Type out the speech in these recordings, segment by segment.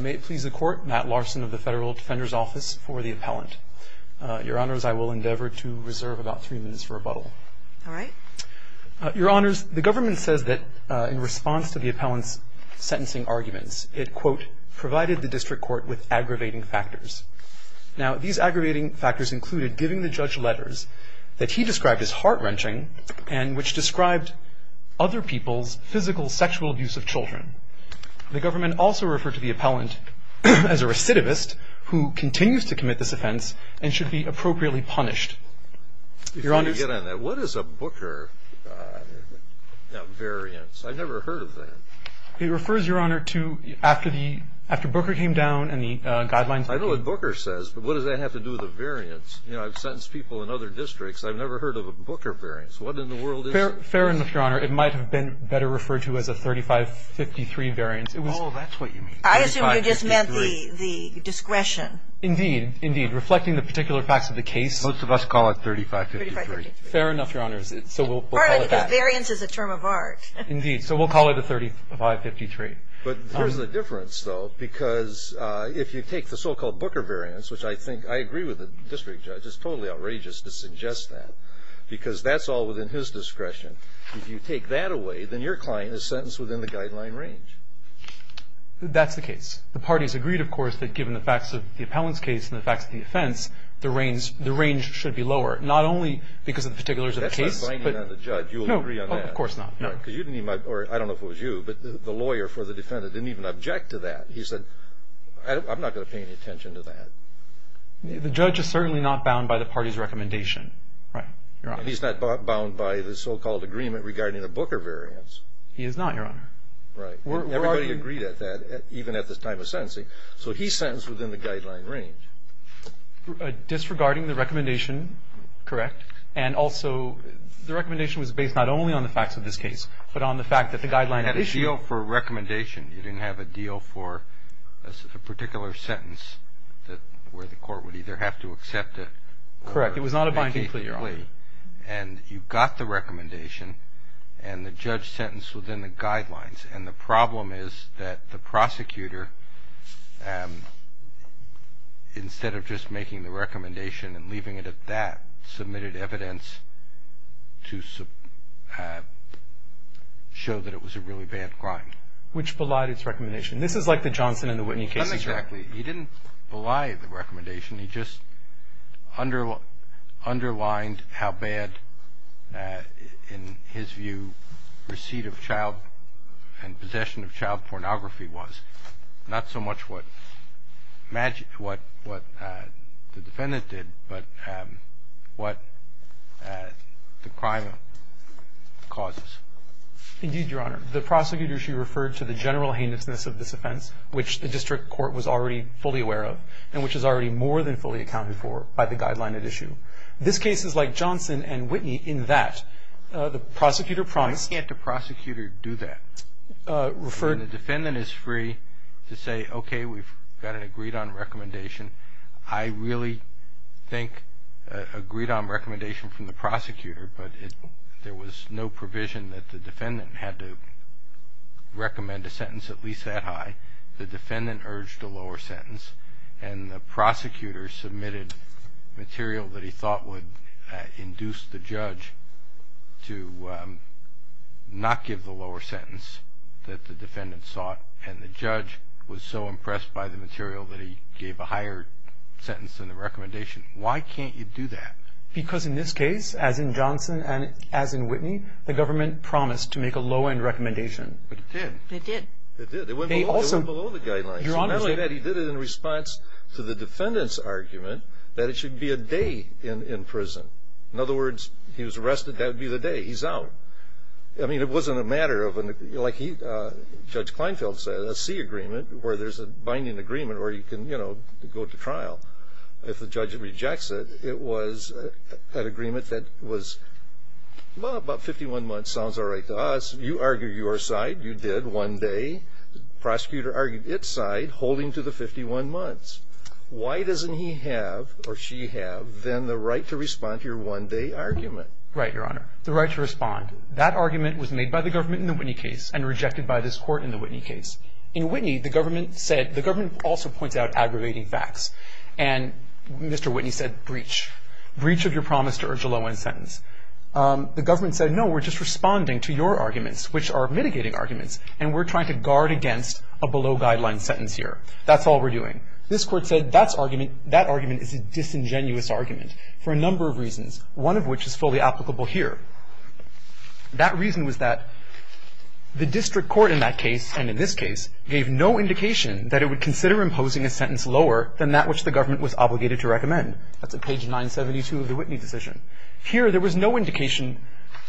May it please the Court, Matt Larson of the Federal Defender's Office for the Appellant. Your Honors, I will endeavor to reserve about three minutes for rebuttal. All right. Your Honors, the government says that in response to the appellant's sentencing arguments, it, quote, provided the district court with aggravating factors. Now, these aggravating factors included giving the judge letters that he described as heart-wrenching and which described other people's physical sexual abuse of children. The government also referred to the appellant as a recidivist who continues to commit this offense and should be appropriately punished. Your Honors. Let me get on that. What is a Booker variance? I've never heard of that. It refers, Your Honor, to after Booker came down and the guidelines. I know what Booker says, but what does that have to do with a variance? You know, I've sentenced people in other districts. I've never heard of a Booker variance. What in the world is it? Fair enough, Your Honor. It might have been better referred to as a 3553 variance. Oh, that's what you mean. I assume you just meant the discretion. Indeed. Indeed. Reflecting the particular facts of the case. Most of us call it 3553. Fair enough, Your Honors. So we'll call it that. All right. Because variance is a term of art. Indeed. So we'll call it a 3553. But there's a difference, though, because if you take the so-called Booker variance, which I think I agree with the district judge. It's totally outrageous to suggest that because that's all within his discretion. If you take that away, then your client is sentenced within the guideline range. That's the case. The parties agreed, of course, that given the facts of the appellant's case and the facts of the defense, the range should be lower. Not only because of the particulars of the case. That's not binding on the judge. You'll agree on that. No, of course not. No. Because you didn't even – or I don't know if it was you, but the lawyer for the defendant didn't even object to that. He said, I'm not going to pay any attention to that. The judge is certainly not bound by the party's recommendation. Right. Your Honor. And he's not bound by the so-called agreement regarding the Booker variance. He is not, Your Honor. Right. Everybody agreed at that, even at the time of sentencing. So he's sentenced within the guideline range. Disregarding the recommendation, correct, and also the recommendation was based not only on the facts of this case, but on the fact that the guideline had issued. It had a deal for recommendation. You didn't have a deal for a particular sentence where the court would either have to accept it or make a plea. And you got the recommendation and the judge sentenced within the guidelines. And the problem is that the prosecutor, instead of just making the recommendation and leaving it at that, submitted evidence to show that it was a really bad crime. Which belied its recommendation. This is like the Johnson and the Whitney cases, right? Not exactly. He didn't belied the recommendation. He just underlined how bad, in his view, receipt of child and possession of child pornography was. Not so much what the defendant did, but what the crime causes. Indeed, Your Honor. The prosecutor, she referred to the general heinousness of this offense, which the district court was already fully aware of, and which is already more than fully accounted for by the guideline at issue. This case is like Johnson and Whitney in that the prosecutor promised. Why can't a prosecutor do that? Referred. When the defendant is free to say, okay, we've got an agreed on recommendation. I really think agreed on recommendation from the prosecutor, but there was no provision that the defendant had to recommend a sentence at least that high. The defendant urged a lower sentence, and the prosecutor submitted material that he thought would induce the judge to not give the lower sentence that the defendant sought, and the judge was so impressed by the material that he gave a higher sentence than the recommendation. Why can't you do that? Because in this case, as in Johnson and as in Whitney, the government promised to make a low-end recommendation. But it did. It did. It did. It went below the guidelines. Your Honor. He did it in response to the defendant's argument that it should be a day in prison. In other words, if he was arrested, that would be the day he's out. I mean, it wasn't a matter of, like Judge Kleinfeld said, a C agreement, where there's a binding agreement where you can, you know, go to trial. If the judge rejects it, it was an agreement that was, well, about 51 months sounds all right to us. You argued your side. You did one day. The prosecutor argued its side, holding to the 51 months. Why doesn't he have or she have then the right to respond to your one-day argument? Right, Your Honor. The right to respond. That argument was made by the government in the Whitney case and rejected by this Court in the Whitney case. In Whitney, the government said the government also points out aggravating facts, and Mr. Whitney said breach, breach of your promise to urge a low-end sentence. The government said, no, we're just responding to your arguments, which are mitigating arguments, and we're trying to guard against a below-guideline sentence here. That's all we're doing. This Court said that argument is a disingenuous argument for a number of reasons, one of which is fully applicable here. That reason was that the district court in that case and in this case gave no indication that it would consider imposing a sentence lower than that which the government was obligated to recommend. That's at page 972 of the Whitney decision. Here, there was no indication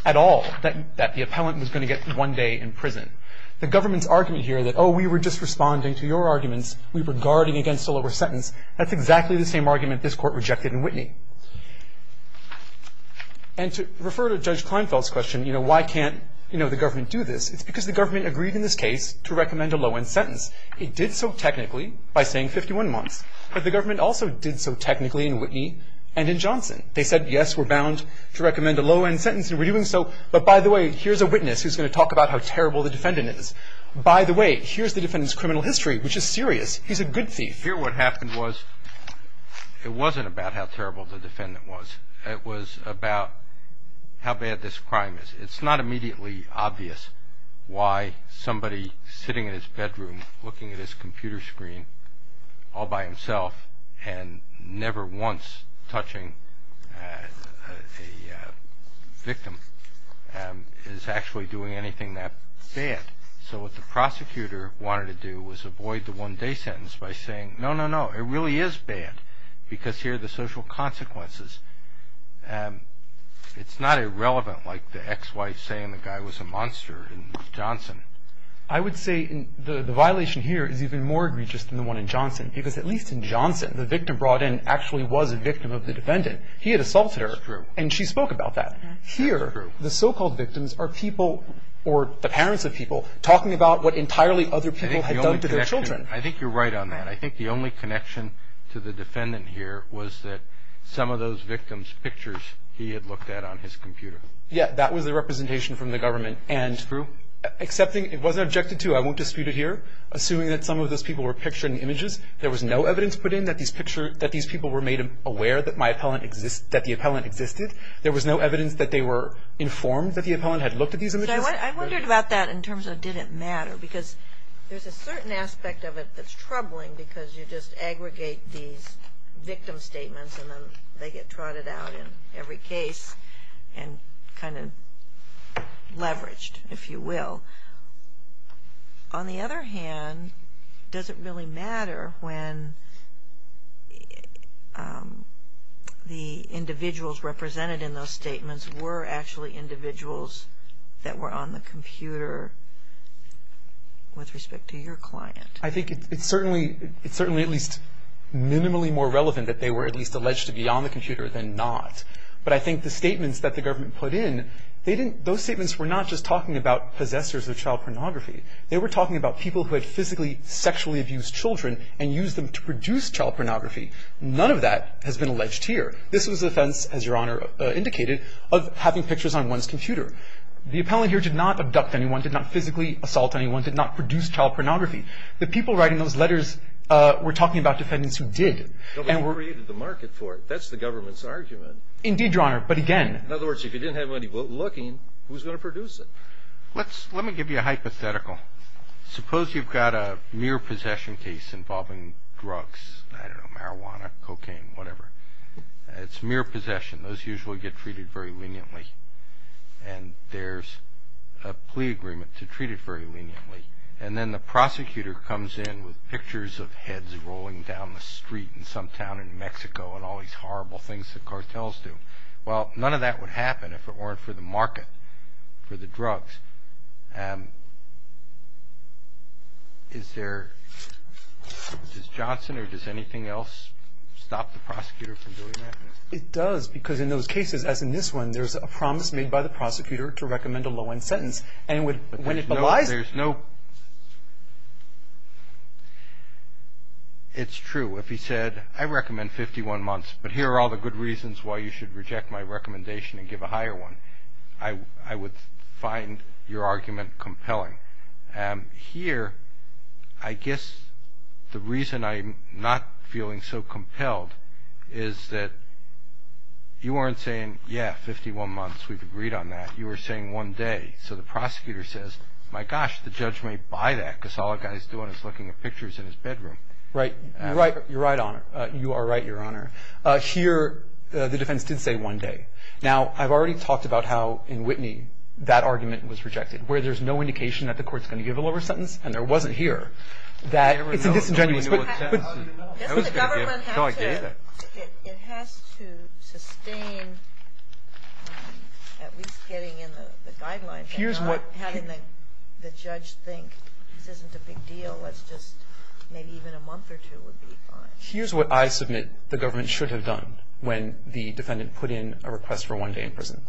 at all that the appellant was going to get one day in prison. The government's argument here that, oh, we were just responding to your arguments, we were guarding against a lower sentence, that's exactly the same argument this Court rejected in Whitney. And to refer to Judge Kleinfeld's question, you know, why can't, you know, the government do this, it's because the government agreed in this case to recommend a low-end sentence. It did so technically by saying 51 months, but the government also did so technically in Whitney and in Johnson. They said, yes, we're bound to recommend a low-end sentence and we're doing so, but by the way, here's a witness who's going to talk about how terrible the defendant is. By the way, here's the defendant's criminal history, which is serious. He's a good thief. Here what happened was it wasn't about how terrible the defendant was. It was about how bad this crime is. It's not immediately obvious why somebody sitting in his bedroom, looking at his computer screen all by himself and never once touching a victim is actually doing anything that bad. So what the prosecutor wanted to do was avoid the one-day sentence by saying, no, no, no, it really is bad because here are the social consequences. It's not irrelevant like the ex-wife saying the guy was a monster in Johnson. I would say the violation here is even more egregious than the one in Johnson because at least in Johnson the victim brought in actually was a victim of the defendant. He had assaulted her. That's true. And she spoke about that. That's true. Here the so-called victims are people or the parents of people talking about what entirely other people had done to their children. I think you're right on that. I think the only connection to the defendant here was that some of those victims' pictures he had looked at on his computer. Yeah, that was the representation from the government. That's true. It wasn't objected to. I won't dispute it here. Assuming that some of those people were picturing images, there was no evidence put in that these people were made aware that the appellant existed. There was no evidence that they were informed that the appellant had looked at these images. I wondered about that in terms of did it matter because there's a certain aspect of it that's troubling because you just aggregate these victim statements and then they get trotted out in every case and kind of leveraged, if you will. On the other hand, does it really matter when the individuals represented in those statements were actually individuals that were on the computer with respect to your client? I think it's certainly at least minimally more relevant that they were at least alleged to be on the computer than not. But I think the statements that the government put in, those statements were not just talking about possessors of child pornography. They were talking about people who had physically sexually abused children and used them to produce child pornography. None of that has been alleged here. This was the offense, as Your Honor indicated, of having pictures on one's computer. The appellant here did not abduct anyone, did not physically assault anyone, did not produce child pornography. The people writing those letters were talking about defendants who did. Nobody created the market for it. That's the government's argument. Indeed, Your Honor, but again. In other words, if you didn't have anybody looking, who's going to produce it? Let me give you a hypothetical. Suppose you've got a mere possession case involving drugs. I don't know, marijuana, cocaine, whatever. It's mere possession. Those usually get treated very leniently. And there's a plea agreement to treat it very leniently. And then the prosecutor comes in with pictures of heads rolling down the street in some town in Mexico and all these horrible things that cartels do. Well, none of that would happen if it weren't for the market for the drugs. Does Johnson or does anything else stop the prosecutor from doing that? It does, because in those cases, as in this one, there's a promise made by the prosecutor to recommend a low-end sentence. But there's no – it's true. If he said, I recommend 51 months, but here are all the good reasons why you should reject my recommendation and give a higher one, I would find your argument compelling. Here, I guess the reason I'm not feeling so compelled is that you weren't saying, yeah, 51 months, we've agreed on that. You were saying one day. So the prosecutor says, my gosh, the judge may buy that, because all the guy's doing is looking at pictures in his bedroom. Right. You're right, Your Honor. You are right, Your Honor. Here, the defense did say one day. Now, I've already talked about how in Whitney that argument was rejected, where there's no indication that the court's going to give a lower sentence, and there wasn't here, that it's a disingenuous – I didn't know. I was going to give it. No, I gave it. Doesn't the government have to – it has to sustain at least getting in the guidelines and not having the judge think this isn't a big deal, let's just – maybe even a month or two would be fine. Here's what I submit the government should have done when the defendant put in a request for one day in prison.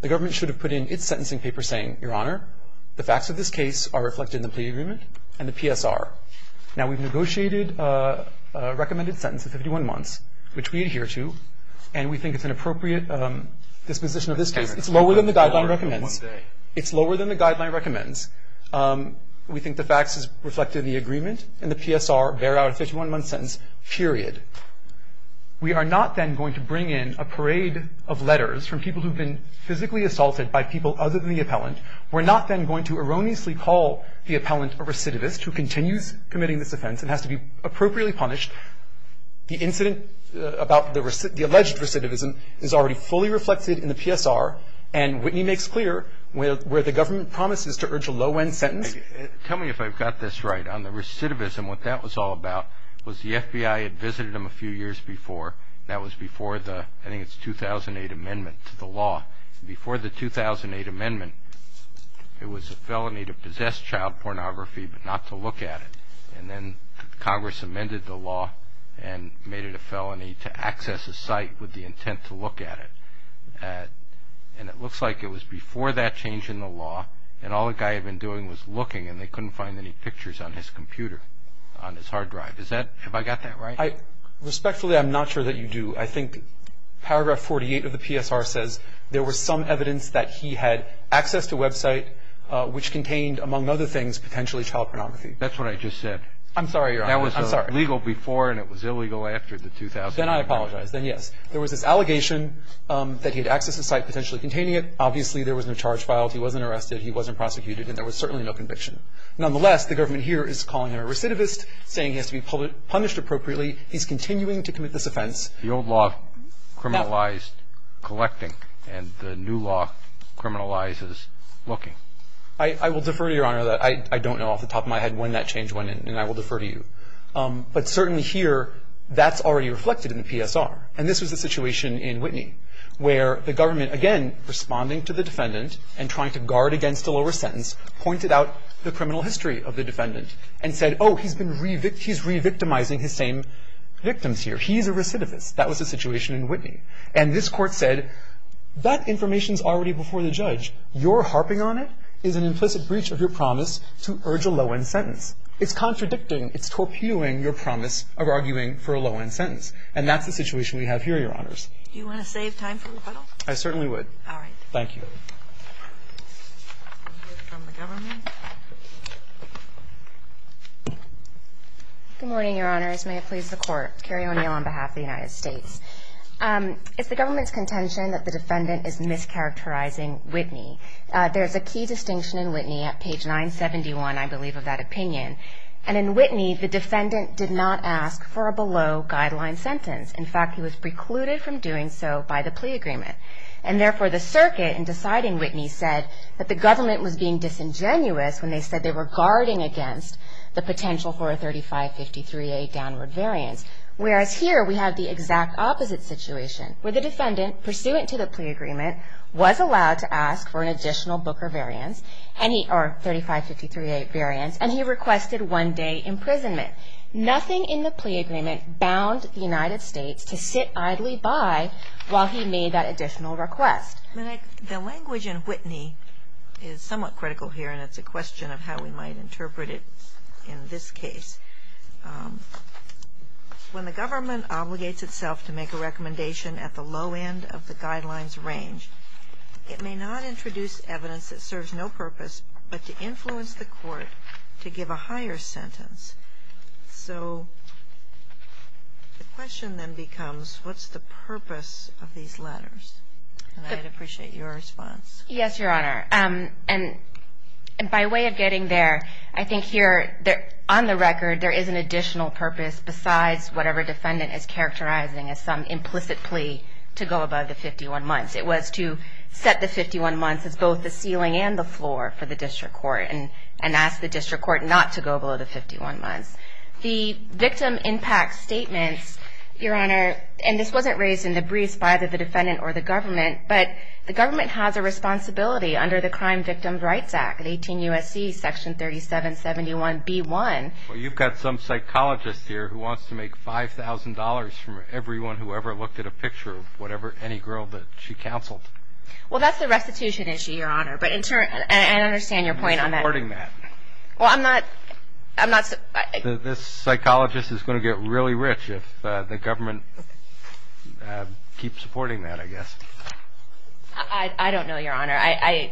The government should have put in its sentencing paper saying, Your Honor, the facts of this case are reflected in the plea agreement and the PSR. Now, we've negotiated a recommended sentence of 51 months, which we adhere to, and we think it's an appropriate disposition of this case. It's lower than the guideline recommends. It's lower than the guideline recommends. We think the facts is reflected in the agreement and the PSR bear out a 51-month sentence, period. We are not then going to bring in a parade of letters from people who've been physically assaulted by people other than the appellant. We're not then going to erroneously call the appellant a recidivist who continues committing this offense and has to be appropriately punished. The incident about the alleged recidivism is already fully reflected in the PSR, and Whitney makes clear where the government promises to urge a low-end sentence. Tell me if I've got this right. On the recidivism, what that was all about was the FBI had visited him a few years before. That was before the, I think it's 2008 amendment to the law. Before the 2008 amendment, it was a felony to possess child pornography but not to look at it. And then Congress amended the law and made it a felony to access a site with the intent to look at it. And it looks like it was before that change in the law, and all the guy had been doing was looking and they couldn't find any pictures on his computer, on his hard drive. Is that, have I got that right? Respectfully, I'm not sure that you do. I think paragraph 48 of the PSR says there was some evidence that he had access to a website which contained, among other things, potentially child pornography. That's what I just said. I'm sorry, Your Honor. That was legal before and it was illegal after the 2008 amendment. Then I apologize. Then yes. There was this allegation that he had access to a site potentially containing it. Obviously, there was no charge filed. He wasn't arrested. He wasn't prosecuted. And there was certainly no conviction. Nonetheless, the government here is calling him a recidivist, saying he has to be punished appropriately. He's continuing to commit this offense. The old law criminalized collecting and the new law criminalizes looking. I will defer to Your Honor. I don't know off the top of my head when that change went in, and I will defer to you. But certainly here, that's already reflected in the PSR. And this was a situation in Whitney where the government, again, responding to the defendant and trying to guard against a lower sentence, pointed out the criminal history of the defendant and said, oh, he's been revictimizing his same victims here. He's a recidivist. That was the situation in Whitney. And this court said, that information is already before the judge. Your harping on it is an implicit breach of your promise to urge a low-end sentence. It's contradicting, it's torpedoing your promise of arguing for a low-end sentence. And that's the situation we have here, Your Honors. Do you want to save time for rebuttal? I certainly would. All right. Thank you. We'll hear from the government. Good morning, Your Honors. May it please the Court. Carrie O'Neill on behalf of the United States. It's the government's contention that the defendant is mischaracterizing Whitney. There's a key distinction in Whitney at page 971, I believe, of that opinion. And in Whitney, the defendant did not ask for a below-guideline sentence. In fact, he was precluded from doing so by the plea agreement. And therefore, the circuit, in deciding Whitney, said that the government was being disingenuous when they said they were guarding against the potential for a 3553A downward variance. Whereas here, we have the exact opposite situation, where the defendant, pursuant to the plea agreement, was allowed to ask for an additional Booker variance, or 3553A variance, and he requested one-day imprisonment. Nothing in the plea agreement bound the United States to sit idly by while he made that additional request. The language in Whitney is somewhat critical here, and it's a question of how we might interpret it in this case. When the government obligates itself to make a recommendation at the low end of the guidelines range, it may not introduce evidence that serves no purpose, but to influence the court to give a higher sentence. So the question then becomes, what's the purpose of these letters? And I'd appreciate your response. Yes, Your Honor. And by way of getting there, I think here, on the record, there is an additional purpose besides whatever defendant is characterizing as some implicit plea to go above the 51 months. It was to set the 51 months as both the ceiling and the floor for the district court and ask the district court not to go below the 51 months. The victim impact statements, Your Honor, and this wasn't raised in the briefs by either the defendant or the government, but the government has a responsibility under the Crime Victims Rights Act, 18 U.S.C. Section 3771B1. Well, you've got some psychologist here who wants to make $5,000 from everyone who ever looked at a picture of any girl that she counseled. Well, that's the restitution issue, Your Honor, but in turn, and I understand your point on that. I'm supporting that. Well, I'm not. This psychologist is going to get really rich if the government keeps supporting that, I guess. I don't know, Your Honor. I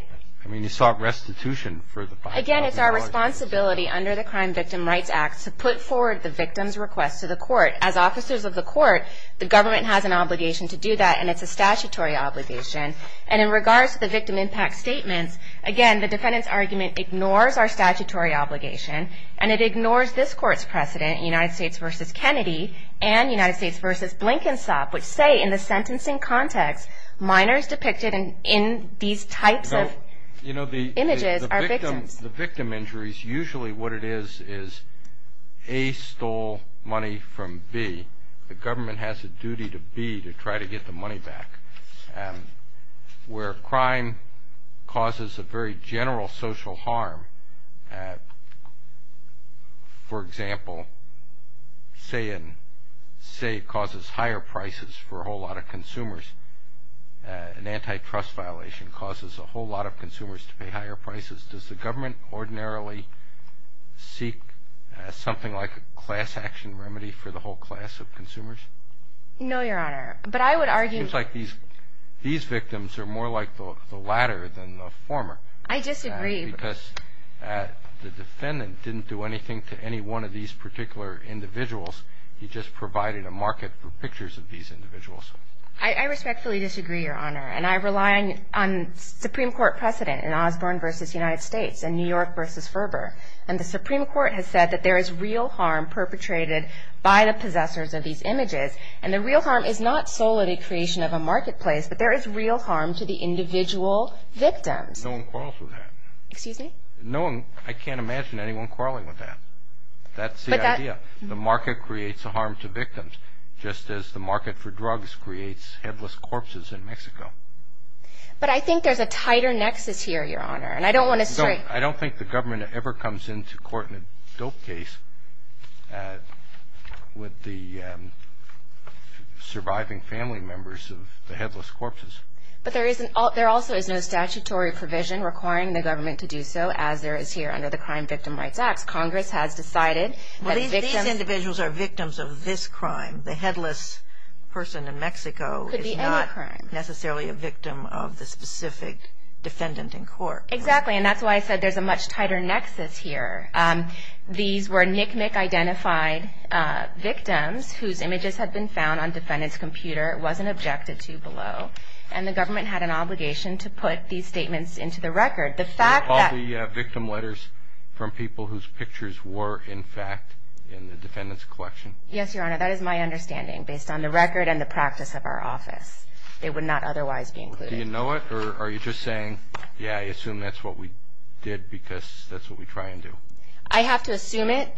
mean, you sought restitution for the 5,000 dollars. Again, it's our responsibility under the Crime Victims Rights Act to put forward the victim's request to the court. As officers of the court, the government has an obligation to do that, and it's a statutory obligation. And in regards to the victim impact statements, again, the defendant's argument ignores our statutory obligation, and it ignores this court's precedent, United States v. Kennedy and United States v. Blinkensop, which say in the sentencing context, minors depicted in these types of images are victims. In the victim injuries, usually what it is is A, stole money from B. The government has a duty to B, to try to get the money back. Where crime causes a very general social harm, for example, say it causes higher prices for a whole lot of consumers, an antitrust violation causes a whole lot of consumers to pay higher prices. Does the government ordinarily seek something like a class action remedy for the whole class of consumers? No, Your Honor. But I would argue. It seems like these victims are more like the latter than the former. I disagree. Because the defendant didn't do anything to any one of these particular individuals. He just provided a market for pictures of these individuals. I respectfully disagree, Your Honor, and I rely on Supreme Court precedent in Osborne v. United States and New York v. Ferber. And the Supreme Court has said that there is real harm perpetrated by the possessors of these images, and the real harm is not solely the creation of a marketplace, but there is real harm to the individual victims. No one quarrels with that. Excuse me? No one. I can't imagine anyone quarreling with that. That's the idea. The market creates a harm to victims, just as the market for drugs creates headless corpses in Mexico. But I think there's a tighter nexus here, Your Honor, and I don't want to stray. I don't think the government ever comes into court in a dope case with the surviving family members of the headless corpses. But there also is no statutory provision requiring the government to do so, as there is here under the Crime Victim Rights Act. Congress has decided that victims. These individuals are victims of this crime. The headless person in Mexico is not necessarily a victim of the specific defendant in court. Exactly, and that's why I said there's a much tighter nexus here. These were NCMEC-identified victims whose images had been found on defendants' computers, wasn't objected to below, and the government had an obligation to put these statements into the record. Do you recall the victim letters from people whose pictures were, in fact, in the defendant's collection? Yes, Your Honor. That is my understanding, based on the record and the practice of our office. They would not otherwise be included. Do you know it, or are you just saying, yeah, I assume that's what we did because that's what we try and do? I have to assume it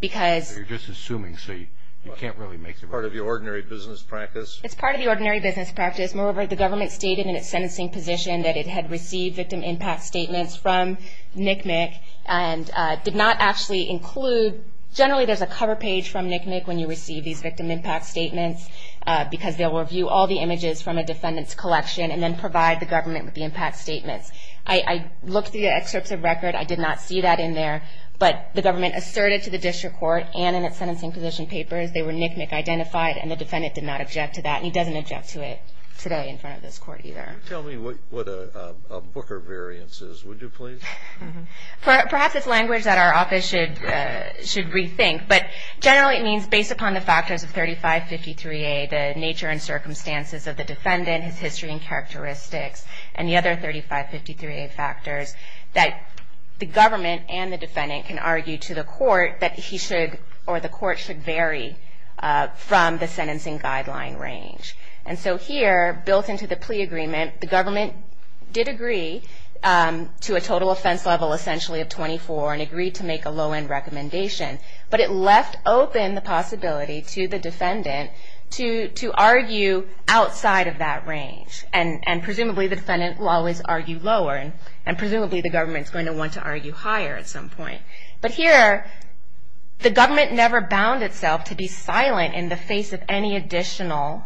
because— You're just assuming, so you can't really make— It's part of the ordinary business practice. It's part of the ordinary business practice. Moreover, the government stated in its sentencing position that it had received victim impact statements from NCMEC and did not actually include— Generally, there's a cover page from NCMEC when you receive these victim impact statements because they'll review all the images from a defendant's collection and then provide the government with the impact statements. I looked through the excerpts of record. I did not see that in there, but the government asserted to the district court and in its sentencing position papers they were NCMEC-identified, and the defendant did not object to that, and he doesn't object to it today in front of this court either. Can you tell me what a booker variance is, would you please? Perhaps it's language that our office should rethink, but generally it means based upon the factors of 3553A, the nature and circumstances of the defendant, his history and characteristics, and the other 3553A factors, that the government and the defendant can argue to the court that he should or the court should vary from the sentencing guideline range. And so here, built into the plea agreement, the government did agree to a total offense level essentially of 24 and agreed to make a low-end recommendation, but it left open the possibility to the defendant to argue outside of that range, and presumably the defendant will always argue lower, and presumably the government's going to want to argue higher at some point. But here, the government never bound itself to be silent in the face of any additional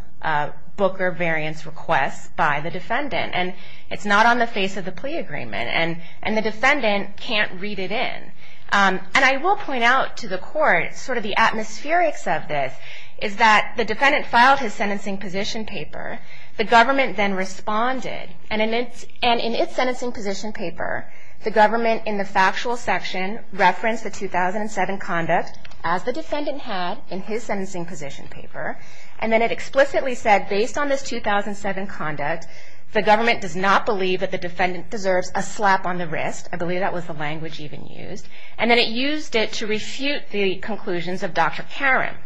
booker variance request by the defendant, and it's not on the face of the plea agreement, and the defendant can't read it in. And I will point out to the court sort of the atmospherics of this, is that the defendant filed his sentencing position paper, the government then responded, and in its sentencing position paper, the government in the factual section referenced the 2007 conduct as the defendant had in his sentencing position paper, and then it explicitly said, based on this 2007 conduct, the government does not believe that the defendant deserves a slap on the wrist. I believe that was the language even used. And then it used it to refute the conclusions of Dr. Karam.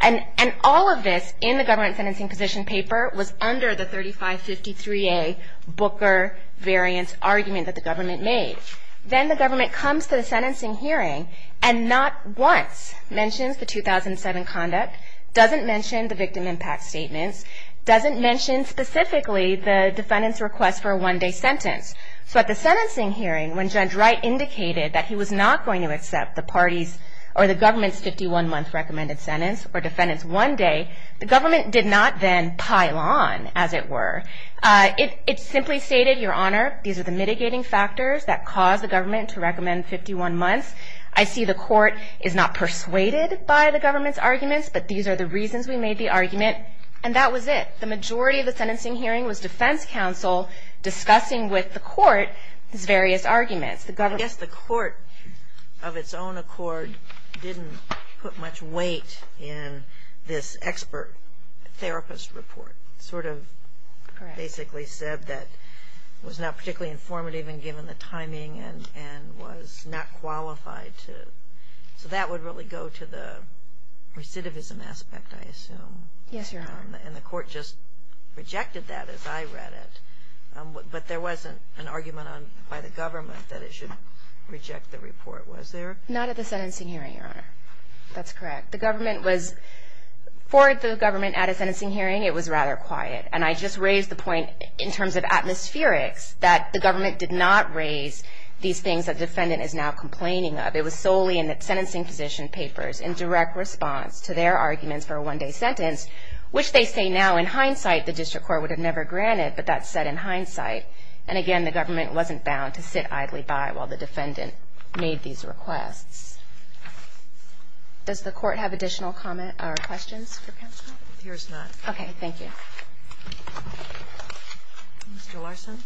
And all of this in the government sentencing position paper was under the 3553A booker variance argument that the government made. Then the government comes to the sentencing hearing and not once mentions the 2007 conduct, doesn't mention the victim impact statements, doesn't mention specifically the defendant's request for a one-day sentence. So at the sentencing hearing, when Judge Wright indicated that he was not going to accept the parties or the government's 51-month recommended sentence or defendant's one day, the government did not then pile on, as it were. It simply stated, Your Honor, these are the mitigating factors that caused the government to recommend 51 months. I see the court is not persuaded by the government's arguments, but these are the reasons we made the argument. And that was it. The majority of the sentencing hearing was defense counsel discussing with the court his various arguments. I guess the court, of its own accord, didn't put much weight in this expert therapist report, which sort of basically said that it was not particularly informative even given the timing and was not qualified to. So that would really go to the recidivism aspect, I assume. Yes, Your Honor. And the court just rejected that as I read it. But there wasn't an argument by the government that it should reject the report, was there? Not at the sentencing hearing, Your Honor. That's correct. For the government at a sentencing hearing, it was rather quiet. And I just raised the point in terms of atmospherics that the government did not raise these things that the defendant is now complaining of. It was solely in the sentencing position papers in direct response to their arguments for a one-day sentence, which they say now in hindsight the district court would have never granted, but that's said in hindsight. And again, the government wasn't bound to sit idly by while the defendant made these requests. Does the court have additional comment or questions for counsel? No. Yours not. Okay. Thank you. Mr. Larson.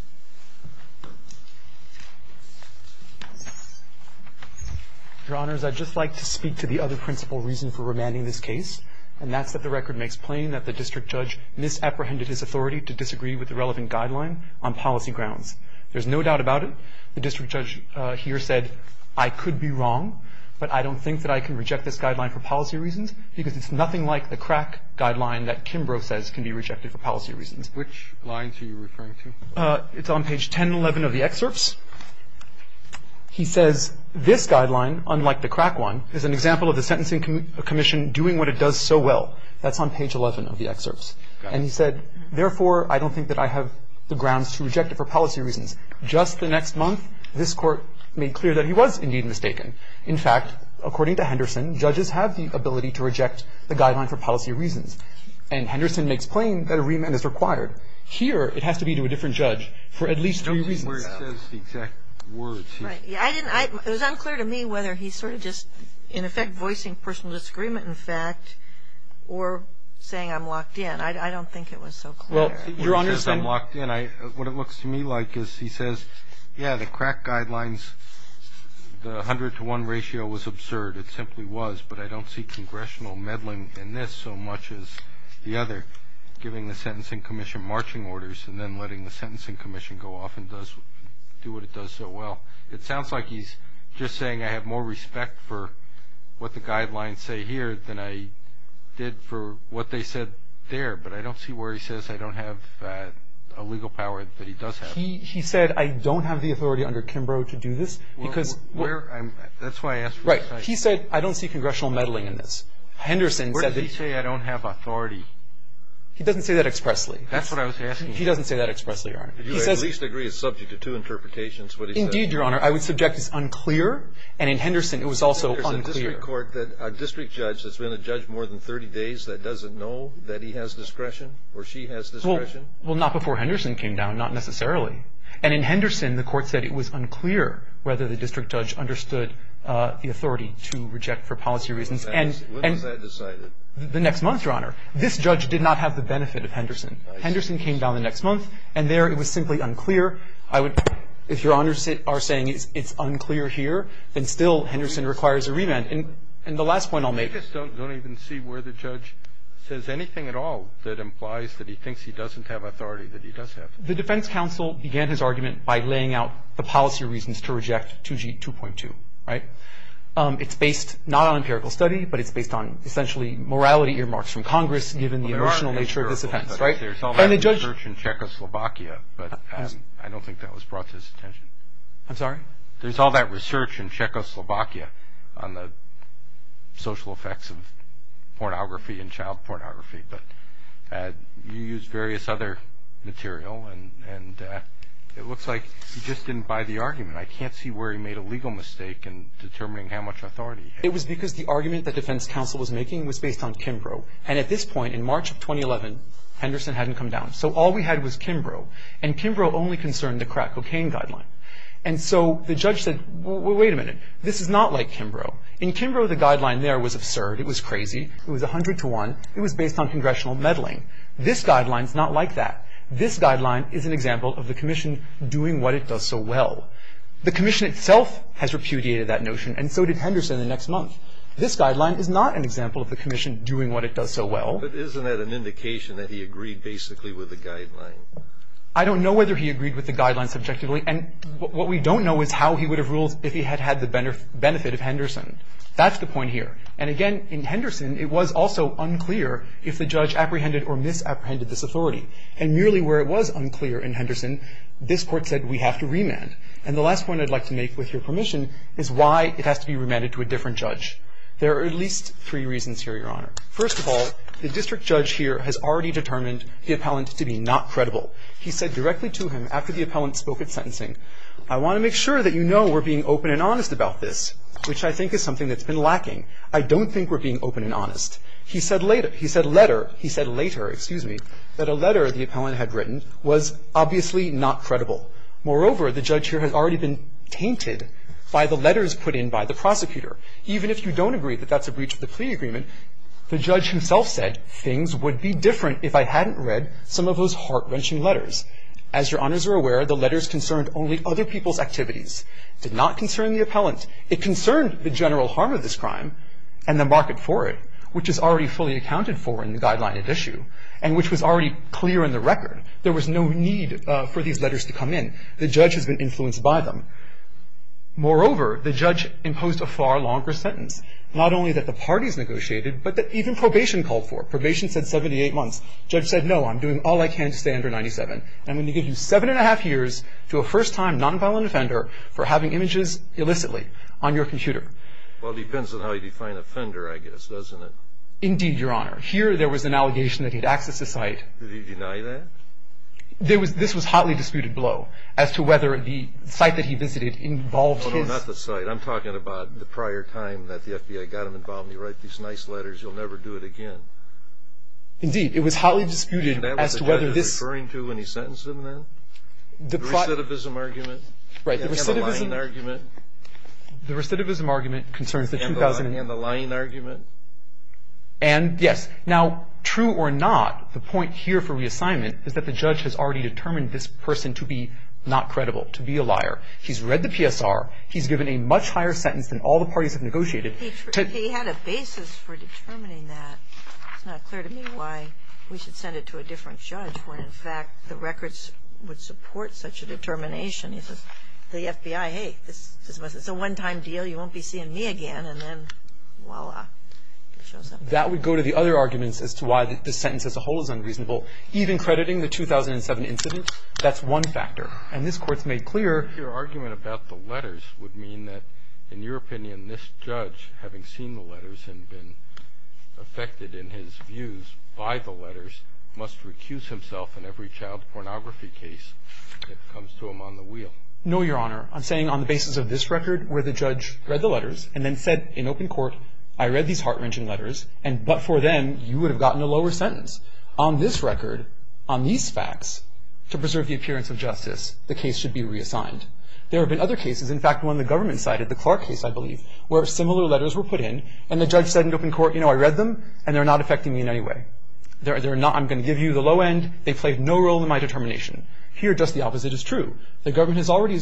Your Honors, I'd just like to speak to the other principal reason for remanding this case, and that's that the record makes plain that the district judge misapprehended his authority to disagree with the relevant guideline on policy grounds. There's no doubt about it. The district judge here said, I could be wrong, but I don't think that I can reject this guideline for policy reasons because it's nothing like the crack guideline that Kimbrough says can be rejected for policy reasons. Which lines are you referring to? It's on page 1011 of the excerpts. He says, This guideline, unlike the crack one, is an example of the sentencing commission doing what it does so well. That's on page 11 of the excerpts. And he said, Therefore, I don't think that I have the grounds to reject it for policy reasons. Just the next month, this Court made clear that he was indeed mistaken. In fact, according to Henderson, judges have the ability to reject the guideline for policy reasons. And Henderson makes plain that a remand is required. Here, it has to be to a different judge for at least three reasons. I don't see where he says the exact words. Right. It was unclear to me whether he's sort of just, in effect, voicing personal disagreement, in fact, or saying I'm locked in. I don't think it was so clear. Well, Your Honors, I'm locked in. What it looks to me like is he says, Yeah, the crack guidelines, the 100 to 1 ratio was absurd. It simply was. But I don't see congressional meddling in this so much as the other, giving the sentencing commission marching orders and then letting the sentencing commission go off and do what it does so well. It sounds like he's just saying I have more respect for what the guidelines say here than I did for what they said there. I don't see where he says I don't have a legal power that he does have. He said I don't have the authority under Kimbrough to do this because That's why I asked. Right. He said I don't see congressional meddling in this. Henderson said that Where did he say I don't have authority? He doesn't say that expressly. That's what I was asking. He doesn't say that expressly, Your Honor. If you at least agree it's subject to two interpretations, what he said Indeed, Your Honor. I would subject as unclear. And in Henderson, it was also unclear. There's a district court that a district judge that's been a judge more than 30 days that doesn't know that he has discretion or she has discretion. Well, not before Henderson came down. Not necessarily. And in Henderson, the court said it was unclear whether the district judge understood the authority to reject for policy reasons. And When was that decided? The next month, Your Honor. This judge did not have the benefit of Henderson. Henderson came down the next month, and there it was simply unclear. If Your Honors are saying it's unclear here, then still Henderson requires a remand. And the last point I'll make I just don't even see where the judge says anything at all that implies that he thinks he doesn't have authority that he does have. The defense counsel began his argument by laying out the policy reasons to reject 2G 2.2, right? It's based not on empirical study, but it's based on essentially morality earmarks from Congress, given the emotional nature of this offense, right? There's all that research in Czechoslovakia, but I don't think that was brought to his attention. I'm sorry? There's all that research in Czechoslovakia on the social effects of pornography and child pornography. But you used various other material, and it looks like you just didn't buy the argument. I can't see where he made a legal mistake in determining how much authority he had. It was because the argument the defense counsel was making was based on Kimbrough. And at this point, in March of 2011, Henderson hadn't come down. So all we had was Kimbrough. And Kimbrough only concerned the crack cocaine guideline. And so the judge said, well, wait a minute. This is not like Kimbrough. In Kimbrough, the guideline there was absurd. It was crazy. It was 100 to 1. It was based on congressional meddling. This guideline is not like that. This guideline is an example of the commission doing what it does so well. The commission itself has repudiated that notion, and so did Henderson the next month. This guideline is not an example of the commission doing what it does so well. But isn't that an indication that he agreed basically with the guideline? I don't know whether he agreed with the guideline subjectively. And what we don't know is how he would have ruled if he had had the benefit of Henderson. That's the point here. And, again, in Henderson, it was also unclear if the judge apprehended or misapprehended this authority. And merely where it was unclear in Henderson, this Court said we have to remand. And the last point I'd like to make, with your permission, is why it has to be remanded to a different judge. There are at least three reasons here, Your Honor. First of all, the district judge here has already determined the appellant to be not credible. He said directly to him after the appellant spoke at sentencing, I want to make sure that you know we're being open and honest about this, which I think is something that's been lacking. I don't think we're being open and honest. He said later, he said letter, he said later, excuse me, that a letter the appellant had written was obviously not credible. Moreover, the judge here has already been tainted by the letters put in by the prosecutor. Even if you don't agree that that's a breach of the plea agreement, the judge himself would be different if I hadn't read some of those heart-wrenching letters. As Your Honors are aware, the letters concerned only other people's activities, did not concern the appellant. It concerned the general harm of this crime and the market for it, which is already fully accounted for in the guideline at issue, and which was already clear in the record. There was no need for these letters to come in. The judge has been influenced by them. Moreover, the judge imposed a far longer sentence, not only that the parties negotiated, but that even probation called for it. Probation said 78 months. The judge said, no, I'm doing all I can to stay under 97. I'm going to give you seven and a half years to a first-time nonviolent offender for having images illicitly on your computer. Well, it depends on how you define offender, I guess, doesn't it? Indeed, Your Honor. Here, there was an allegation that he'd accessed a site. Did he deny that? This was hotly disputed below, as to whether the site that he visited involved his No, no, not the site. I'm talking about the prior time that the FBI got him involved. You write these nice letters. You'll never do it again. Indeed, it was hotly disputed as to whether this Is that what the judge was referring to when he sentenced him then? The recidivism argument? Right. And the lying argument? The recidivism argument concerns the 2000 And the lying argument? And, yes. Now, true or not, the point here for reassignment is that the judge has already determined this person to be not credible, to be a liar. He's read the PSR. He's given a much higher sentence than all the parties have negotiated. He had a basis for determining that. It's not clear to me why we should send it to a different judge when, in fact, the records would support such a determination. He says, the FBI, hey, this is a one-time deal. You won't be seeing me again. And then, voila, it shows up. That would go to the other arguments as to why the sentence as a whole is unreasonable. Even crediting the 2007 incident, that's one factor. And this court's made clear Your argument about the letters would mean that, in your opinion, this judge, having seen the letters and been affected in his views by the letters, must recuse himself in every child pornography case that comes to him on the wheel. No, Your Honor. I'm saying, on the basis of this record, where the judge read the letters and then said in open court, I read these heart-wrenching letters, and but for them, you would have gotten a lower sentence. On this record, on these facts, to preserve the appearance of justice, the case should be reassigned. There have been other cases, in fact, one the government cited, the Clark case, I believe, where similar letters were put in, and the judge said in open court, you know, I read them, and they're not affecting me in any way. I'm going to give you the low end. They played no role in my determination. Here, just the opposite is true. The government has already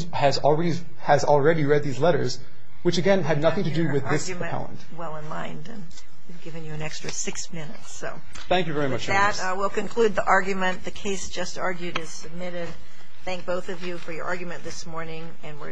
read these letters, which, again, had nothing to do with this appellant. Your argument, well in mind, and we've given you an extra six minutes. Thank you very much. With that, we'll conclude the argument. The case just argued is submitted. Thank both of you for your argument this morning, and we're adjourned.